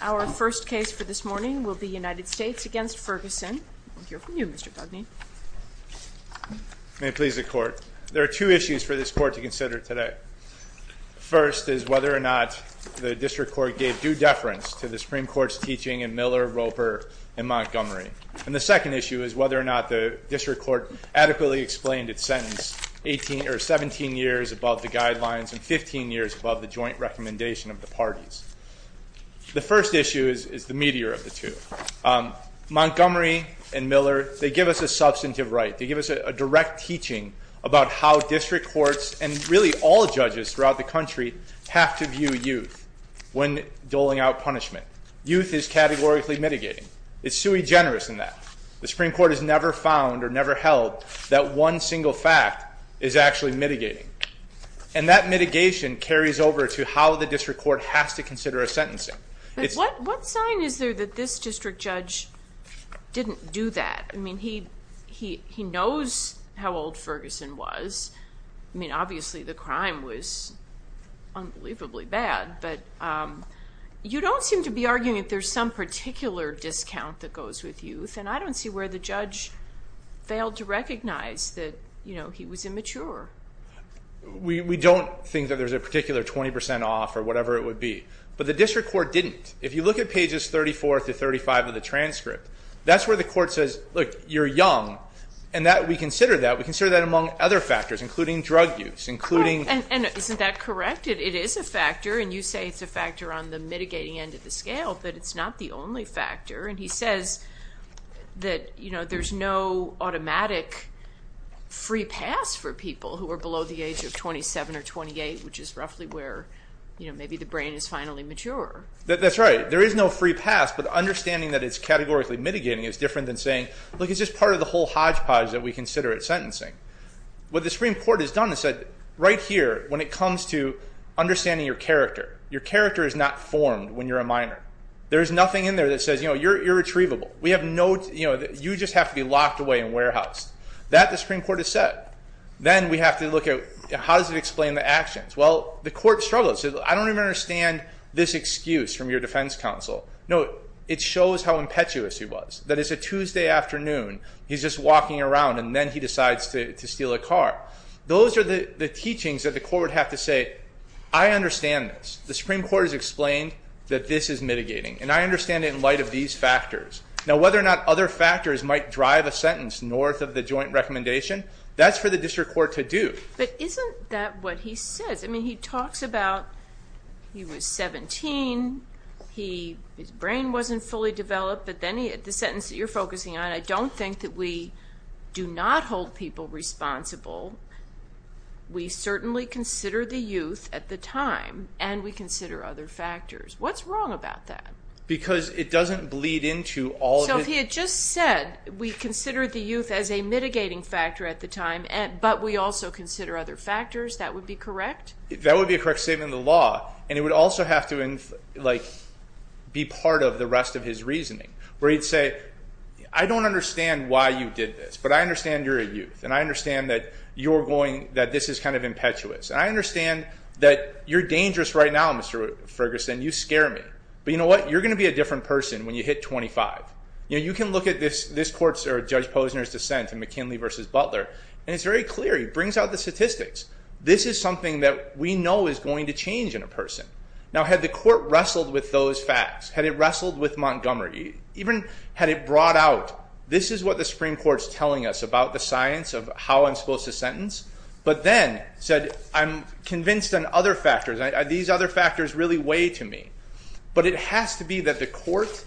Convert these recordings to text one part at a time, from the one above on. Our first case for this morning will be United States v. Ferguson. We'll hear from you, Mr. Dugney. May it please the Court. There are two issues for this Court to consider today. The first is whether or not the District Court gave due deference to the Supreme Court's teaching in Miller, Roper, and Montgomery. And the second issue is whether or not the District Court adequately explained its sentence 17 years above the guidelines and 15 years above the joint recommendation of the parties. The first issue is the meteor of the two. Montgomery and Miller, they give us a substantive right. They give us a direct teaching about how District Courts and really all judges throughout the country have to view youth when doling out punishment. Youth is categorically mitigating. It's sui generis in that. The Supreme Court has never found or never held that one single fact is actually mitigating. And that mitigation carries over to how the District Court has to consider a sentencing. What sign is there that this District Judge didn't do that? I mean, he knows how old Ferguson was. I mean, obviously, the crime was unbelievably bad, but you don't seem to be arguing that there's some particular discount that goes with youth, and I don't see where the judge failed to recognize that he was immature. We don't think that there's a particular 20 percent off or whatever it would be. But the District Court didn't. If you look at pages 34 through 35 of the transcript, that's where the court says, look, you're young. And we consider that. We consider that among other factors, including drug use, including. And isn't that correct? It is a factor, and you say it's a factor on the mitigating end of the scale, but it's not the only factor. And he says that there's no automatic free pass for people who are below the age of 27 or 28, which is roughly where maybe the brain is finally mature. That's right. There is no free pass, but understanding that it's categorically mitigating is different than saying, look, it's just part of the whole hodgepodge that we consider at sentencing. What the Supreme Court has done is said, right here, when it comes to understanding your character, your character is not formed when you're a minor. There is nothing in there that says, you know, you're retrievable. We have no, you know, you just have to be locked away and warehoused. That the Supreme Court has said. Then we have to look at how does it explain the actions. Well, the court struggles. I don't even understand this excuse from your defense counsel. No, it shows how impetuous he was. That it's a Tuesday afternoon, he's just walking around, and then he decides to steal a car. Those are the teachings that the court would have to say, I understand this. The Supreme Court has explained that this is mitigating. And I understand it in light of these factors. Now, whether or not other factors might drive a sentence north of the joint recommendation, that's for the district court to do. But isn't that what he says? I mean, he talks about he was 17, his brain wasn't fully developed, but then the sentence that you're focusing on, I don't think that we do not hold people responsible. We certainly consider the youth at the time, and we consider other factors. What's wrong about that? Because it doesn't bleed into all of it. So if he had just said, we consider the youth as a mitigating factor at the time, but we also consider other factors, that would be correct? That would be a correct statement of the law, and it would also have to be part of the rest of his reasoning. Where he'd say, I don't understand why you did this, but I understand you're a youth, and I understand that this is kind of impetuous, and I understand that you're dangerous right now, Mr. Ferguson. You scare me. But you know what? You're going to be a different person when you hit 25. You can look at this court's or Judge Posner's dissent in McKinley v. Butler, and it's very clear. He brings out the statistics. This is something that we know is going to change in a person. Now, had the court wrestled with those facts, had it wrestled with Montgomery, even had it brought out, this is what the Supreme Court is telling us about the science of how I'm supposed to sentence. But then said, I'm convinced on other factors. These other factors really weigh to me. But it has to be that the court,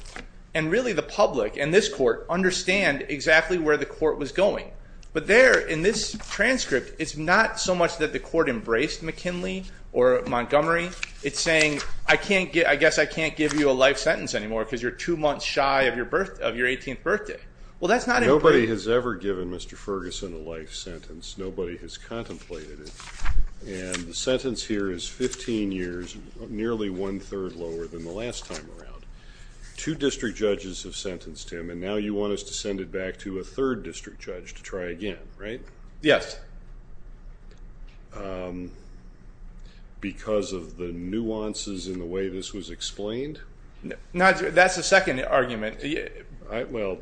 and really the public, and this court, understand exactly where the court was going. But there in this transcript, it's not so much that the court embraced McKinley or Montgomery, it's saying, I guess I can't give you a life sentence anymore because you're two months shy of your 18th birthday. Nobody has ever given Mr. Ferguson a life sentence. Nobody has contemplated it. And the sentence here is 15 years, nearly one-third lower than the last time around. Two district judges have sentenced him, and now you want us to send it back to a third district judge to try again, right? Yes. Because of the nuances in the way this was explained? That's the second argument. Well,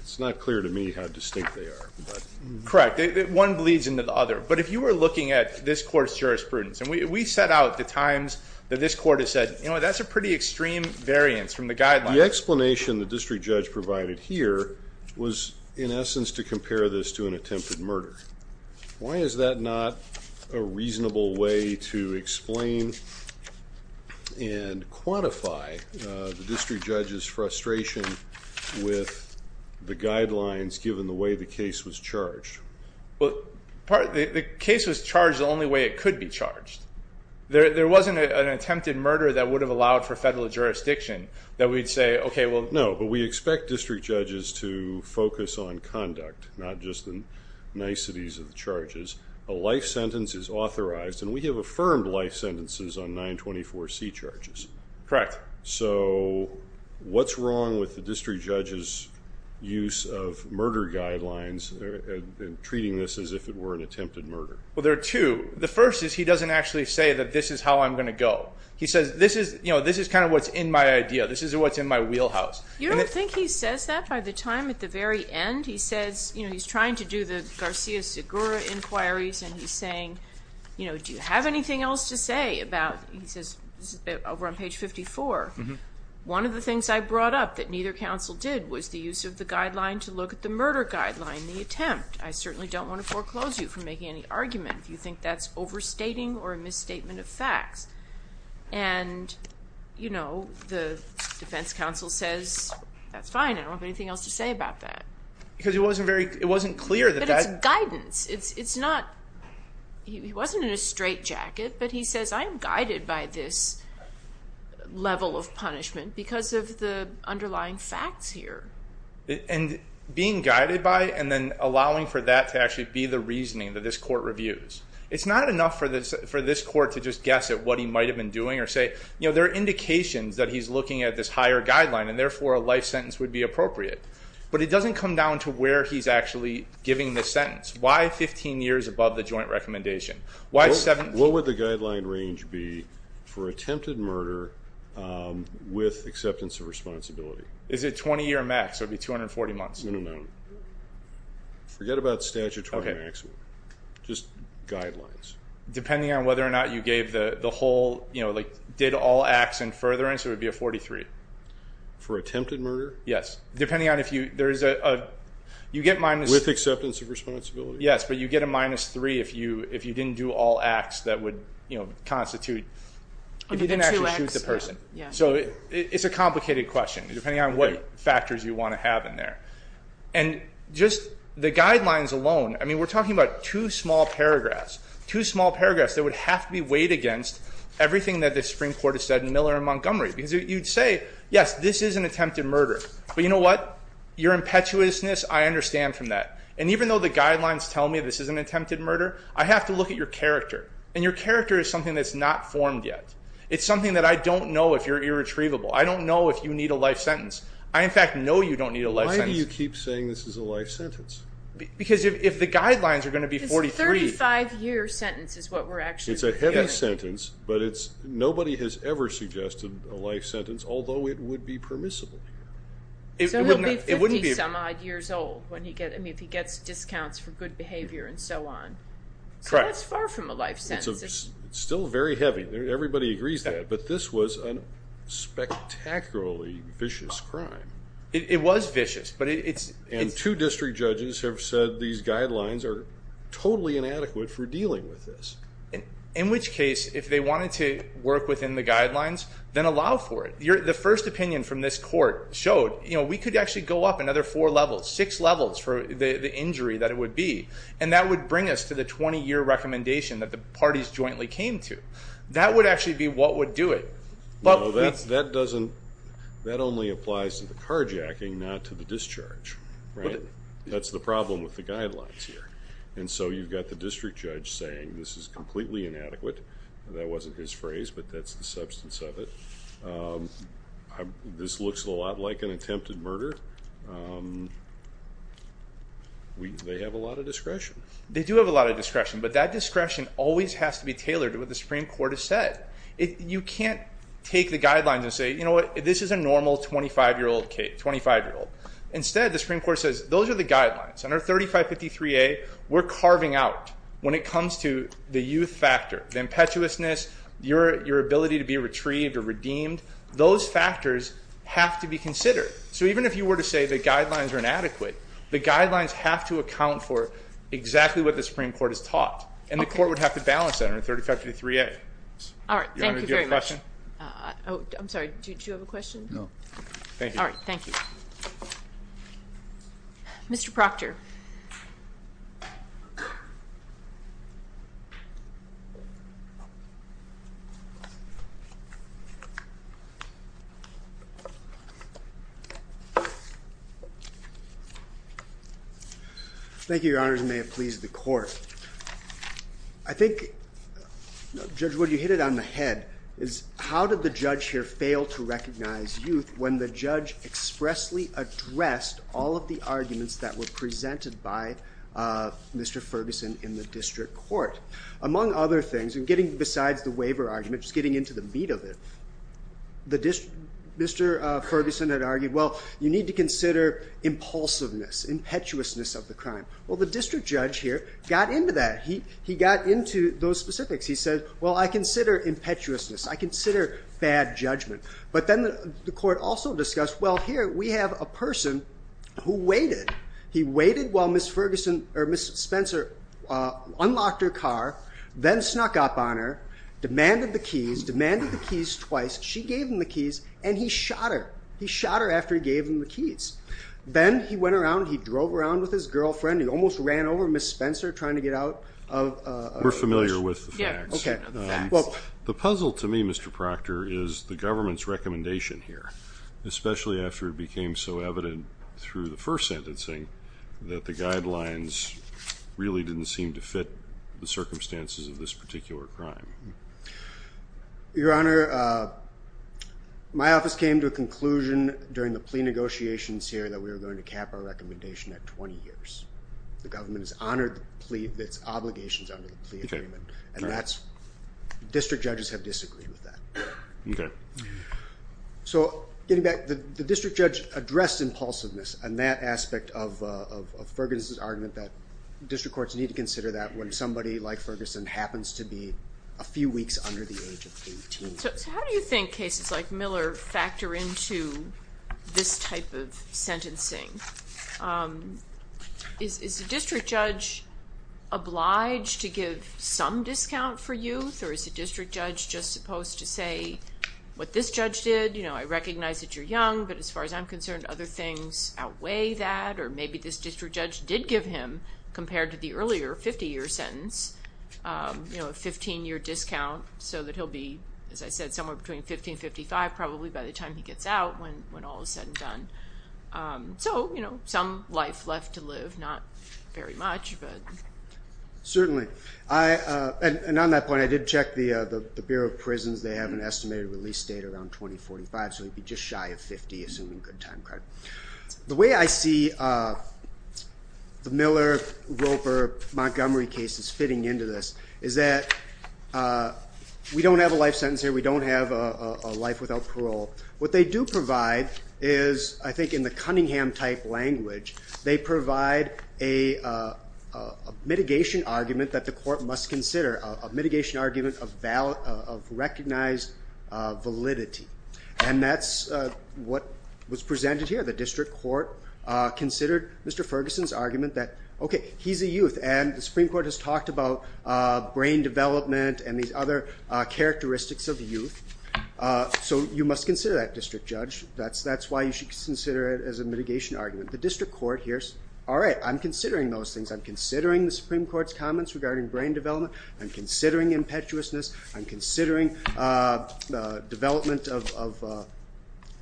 it's not clear to me how distinct they are. Correct. One bleeds into the other. But if you were looking at this court's jurisprudence, and we set out the times that this court has said, you know what, that's a pretty extreme variance from the guidelines. The explanation the district judge provided here was, in essence, to compare this to an attempted murder. Why is that not a reasonable way to explain and quantify the district judge's frustration with the guidelines, given the way the case was charged? Well, the case was charged the only way it could be charged. There wasn't an attempted murder that would have allowed for federal jurisdiction that we'd say, okay, well. No, but we expect district judges to focus on conduct, not just the niceties of the charges. A life sentence is authorized, and we have affirmed life sentences on 924C charges. Correct. So what's wrong with the district judge's use of murder guidelines in treating this as if it were an attempted murder? Well, there are two. The first is he doesn't actually say that this is how I'm going to go. He says, you know, this is kind of what's in my idea. This is what's in my wheelhouse. You don't think he says that by the time at the very end? He says, you know, he's trying to do the Garcia-Segura inquiries, and he's saying, you know, do you have anything else to say about, he says over on page 54, one of the things I brought up that neither counsel did was the use of the guideline to look at the murder guideline, the attempt. I certainly don't want to foreclose you from making any argument if you think that's overstating or a misstatement of facts. And, you know, the defense counsel says, that's fine. I don't have anything else to say about that. Because it wasn't clear that that... But it's guidance. It's not, he wasn't in a straight jacket, but he says I'm guided by this level of punishment because of the underlying facts here. And being guided by and then allowing for that to actually be the reasoning that this court reviews. It's not enough for this court to just guess at what he might have been doing or say, you know, there are indications that he's looking at this higher guideline and therefore a life sentence would be appropriate. But it doesn't come down to where he's actually giving this sentence. Why 15 years above the joint recommendation? Why 17? What would the guideline range be for attempted murder with acceptance of responsibility? Is it 20 year max? It would be 240 months. No, no. Forget about statute 20 maximum. Just guidelines. Depending on whether or not you gave the whole, you know, like did all acts in furtherance, it would be a 43. For attempted murder? Yes. Depending on if you, there is a, you get minus. With acceptance of responsibility. Yes, but you get a minus 3 if you didn't do all acts that would, you know, constitute, if you didn't actually shoot the person. So it's a complicated question depending on what factors you want to have in there. And just the guidelines alone, I mean, we're talking about two small paragraphs, two small paragraphs that would have to be weighed against everything that the Supreme Court has said in Miller and Montgomery. Because you'd say, yes, this is an attempted murder. But you know what? Your impetuousness, I understand from that. And even though the guidelines tell me this is an attempted murder, I have to look at your character. And your character is something that's not formed yet. It's something that I don't know if you're irretrievable. I don't know if you need a life sentence. I, in fact, know you don't need a life sentence. Why do you keep saying this is a life sentence? Because if the guidelines are going to be 43. Because a 35-year sentence is what we're actually looking at. It's a life sentence, but nobody has ever suggested a life sentence, although it would be permissible. So he'll be 50-some-odd years old if he gets discounts for good behavior and so on. So that's far from a life sentence. It's still very heavy. Everybody agrees that. But this was a spectacularly vicious crime. It was vicious. And two district judges have said these guidelines are totally inadequate for dealing with this. In which case, if they wanted to work within the guidelines, then allow for it. The first opinion from this court showed we could actually go up another four levels, six levels for the injury that it would be, and that would bring us to the 20-year recommendation that the parties jointly came to. That would actually be what would do it. No, that only applies to the carjacking, not to the discharge. That's the problem with the guidelines here. And so you've got the district judge saying this is completely inadequate. That wasn't his phrase, but that's the substance of it. This looks a lot like an attempted murder. They have a lot of discretion. They do have a lot of discretion, but that discretion always has to be tailored to what the Supreme Court has said. You can't take the guidelines and say, you know what, this is a normal 25-year-old kid, 25-year-old. Instead, the Supreme Court says those are the guidelines. Under 3553A, we're carving out when it comes to the youth factor, the impetuousness, your ability to be retrieved or redeemed. Those factors have to be considered. So even if you were to say the guidelines are inadequate, the guidelines have to account for exactly what the Supreme Court has taught, and the court would have to balance that under 3553A. All right. Thank you very much. Do you have a question? I'm sorry. Do you have a question? No. All right. Thank you. Mr. Proctor. Thank you, Your Honors. May it please the Court. I think, Judge Wood, you hit it on the head, is how did the judge here fail to recognize youth when the judge expressly addressed all of the arguments that were presented by Mr. Ferguson in the district court? Among other things, and getting besides the waiver argument, just getting into the meat of it, Mr. Ferguson had argued, well, you need to consider impulsiveness, impetuousness of the crime. Well, the district judge here got into that. He got into those specifics. He said, well, I consider impetuousness. I consider bad judgment. But then the court also discussed, well, here we have a person who waited. He waited while Ms. Ferguson or Ms. Spencer unlocked her car, then snuck up on her, demanded the keys, demanded the keys twice. She gave him the keys, and he shot her. He shot her after he gave him the keys. Then he went around, he drove around with his girlfriend. He almost ran over Ms. Spencer trying to get out of the car. I'm familiar with the facts. The puzzle to me, Mr. Proctor, is the government's recommendation here, especially after it became so evident through the first sentencing that the guidelines really didn't seem to fit the circumstances of this particular crime. Your Honor, my office came to a conclusion during the plea negotiations here that we were going to cap our recommendation at 20 years. The government has honored its obligations under the plea agreement, and district judges have disagreed with that. Okay. Getting back, the district judge addressed impulsiveness in that aspect of Ferguson's argument that district courts need to consider that when somebody like Ferguson happens to be a few weeks under the age of 18. Is the district judge obliged to give some discount for youth, or is the district judge just supposed to say what this judge did? I recognize that you're young, but as far as I'm concerned, other things outweigh that, or maybe this district judge did give him, compared to the earlier 50-year sentence, a 15-year discount so that he'll be, as I said, somewhere between 15 and 55 probably by the time he gets out when all is said and done. So some life left to live, not very much. Certainly. And on that point, I did check the Bureau of Prisons. They have an estimated release date around 2045, so he'd be just shy of 50, assuming good time credit. The way I see the Miller, Roper, Montgomery cases fitting into this is that we don't have a life sentence here. We don't have a life without parole. What they do provide is, I think in the Cunningham-type language, they provide a mitigation argument that the court must consider, a mitigation argument of recognized validity. And that's what was presented here. The district court considered Mr. Ferguson's argument that, okay, he's a youth, and the Supreme Court has talked about brain development and these other characteristics of youth, so you must consider that, District Judge. That's why you should consider it as a mitigation argument. The district court hears, all right, I'm considering those things. I'm considering the Supreme Court's comments regarding brain development. I'm considering impetuousness. I'm considering development of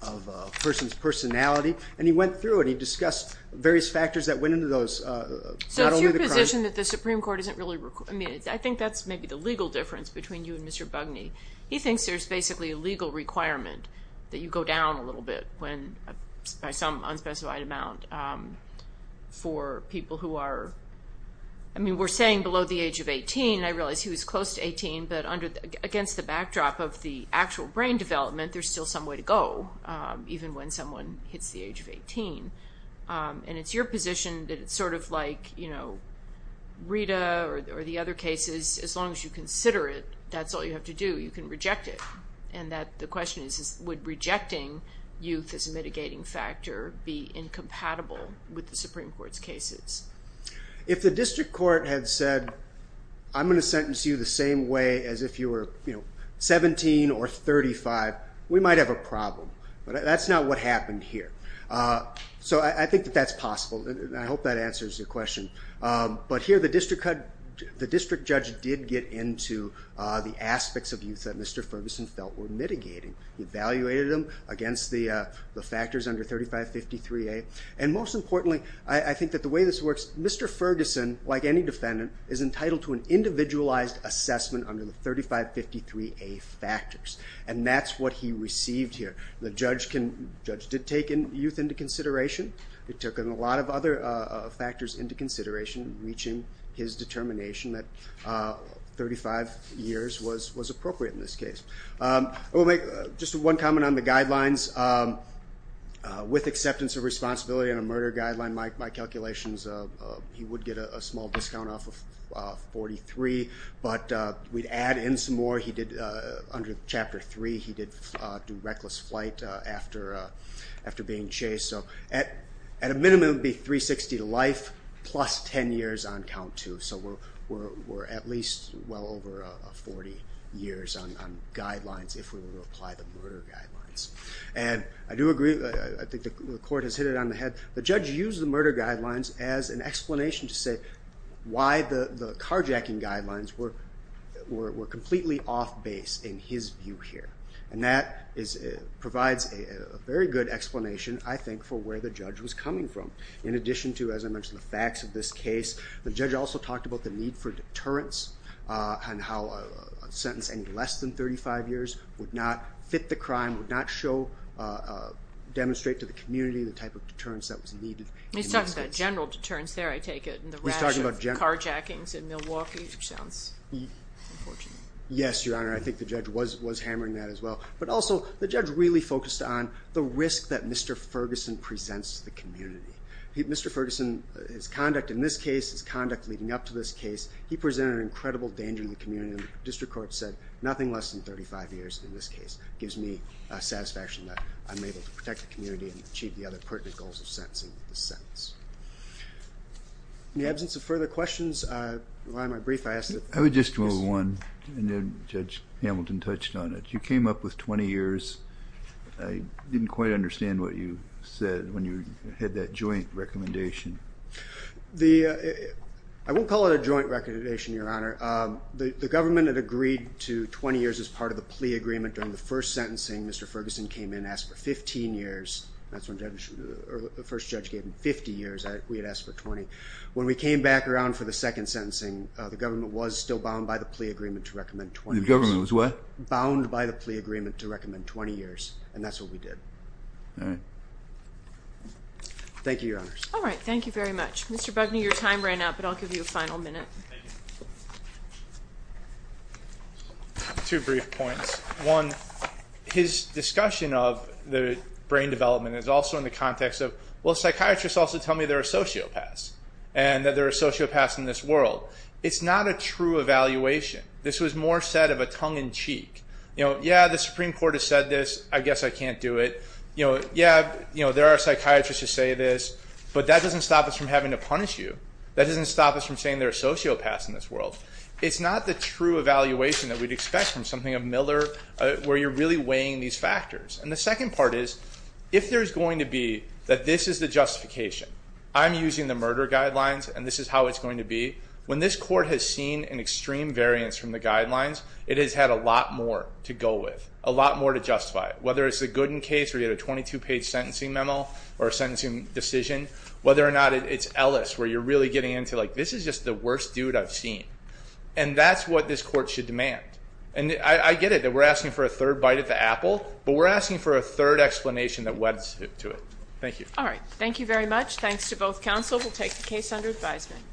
a person's personality. And he went through it. He discussed various factors that went into those, not only the crime. So it's your position that the Supreme Court isn't really, I mean, I think that's maybe the legal difference between you and Mr. Bugney. He thinks there's basically a legal requirement that you go down a little bit by some unspecified amount for people who are, I mean, we're saying below the age of 18. I realize he was close to 18. But against the backdrop of the actual brain development, there's still some way to go even when someone hits the age of 18. And it's your position that it's sort of like, you know, Rita or the other cases. As long as you consider it, that's all you have to do. You can reject it. And the question is, would rejecting youth as a mitigating factor be incompatible with the Supreme Court's cases? If the district court had said, I'm going to sentence you the same way as if you were 17 or 35, we might have a problem. But that's not what happened here. So I think that that's possible. And I hope that answers your question. But here the district judge did get into the aspects of youth that Mr. Ferguson felt were mitigating. He evaluated them against the factors under 3553A. And most importantly, I think that the way this works, Mr. Ferguson, like any defendant, is entitled to an individualized assessment under the 3553A factors. And that's what he received here. The judge did take youth into consideration. He took a lot of other factors into consideration, reaching his determination that 35 years was appropriate in this case. I will make just one comment on the guidelines. With acceptance of responsibility on a murder guideline, my calculations, he would get a small discount off of 43. But we'd add in some more. He did, under Chapter 3, he did do reckless flight after being chased. So at a minimum, it would be 360 to life plus 10 years on count two. So we're at least well over 40 years on guidelines if we were to apply the murder guidelines. And I do agree. I think the court has hit it on the head. The judge used the murder guidelines as an explanation to say why the carjacking guidelines were completely off base in his view here. And that provides a very good explanation, I think, for where the judge was coming from. In addition to, as I mentioned, the facts of this case, the judge also talked about the need for deterrence and how a sentence any less than 35 years would not fit the crime, would not demonstrate to the community the type of deterrence that was needed. He's talking about general deterrence there, I take it, and the rash of carjackings in Milwaukee, which sounds unfortunate. Yes, Your Honor. I think the judge was hammering that as well. But also, the judge really focused on the risk that Mr. Ferguson presents to the community. Mr. Ferguson, his conduct in this case, his conduct leading up to this case, he presented an incredible danger to the community. The district court said nothing less than 35 years in this case gives me satisfaction that I'm able to protect the community and achieve the other pertinent goals of sentencing with this sentence. In the absence of further questions, why am I brief? I would just move one, and then Judge Hamilton touched on it. You came up with 20 years. I didn't quite understand what you said when you had that joint recommendation. I won't call it a joint recommendation, Your Honor. The government had agreed to 20 years as part of the plea agreement. During the first sentencing, Mr. Ferguson came in and asked for 15 years. That's what the first judge gave him, 50 years. We had asked for 20. When we came back around for the second sentencing, the government was still bound by the plea agreement to recommend 20 years. The government was what? Bound by the plea agreement to recommend 20 years, and that's what we did. All right. Thank you, Your Honors. All right. Thank you very much. Mr. Bugney, your time ran out, but I'll give you a final minute. Thank you. Two brief points. One, his discussion of the brain development is also in the context of, well, psychiatrists also tell me they're a sociopath and that there are sociopaths in this world. It's not a true evaluation. This was more said of a tongue-in-cheek. You know, yeah, the Supreme Court has said this, I guess I can't do it. You know, yeah, there are psychiatrists who say this, but that doesn't stop us from having to punish you. That doesn't stop us from saying there are sociopaths in this world. It's not the true evaluation that we'd expect from something of Miller where you're really weighing these factors. And the second part is, if there's going to be that this is the justification, I'm using the murder guidelines, and this is how it's going to be. When this court has seen an extreme variance from the guidelines, it has had a lot more to go with, a lot more to justify it, whether it's the Gooden case where you had a 22-page sentencing memo or a sentencing decision, whether or not it's Ellis where you're really getting into, like, this is just the worst dude I've seen. And that's what this court should demand. And I get it that we're asking for a third bite at the apple, but we're asking for a third explanation that weds to it. Thank you. All right, thank you very much. Thanks to both counsel. We'll take the case under advisement.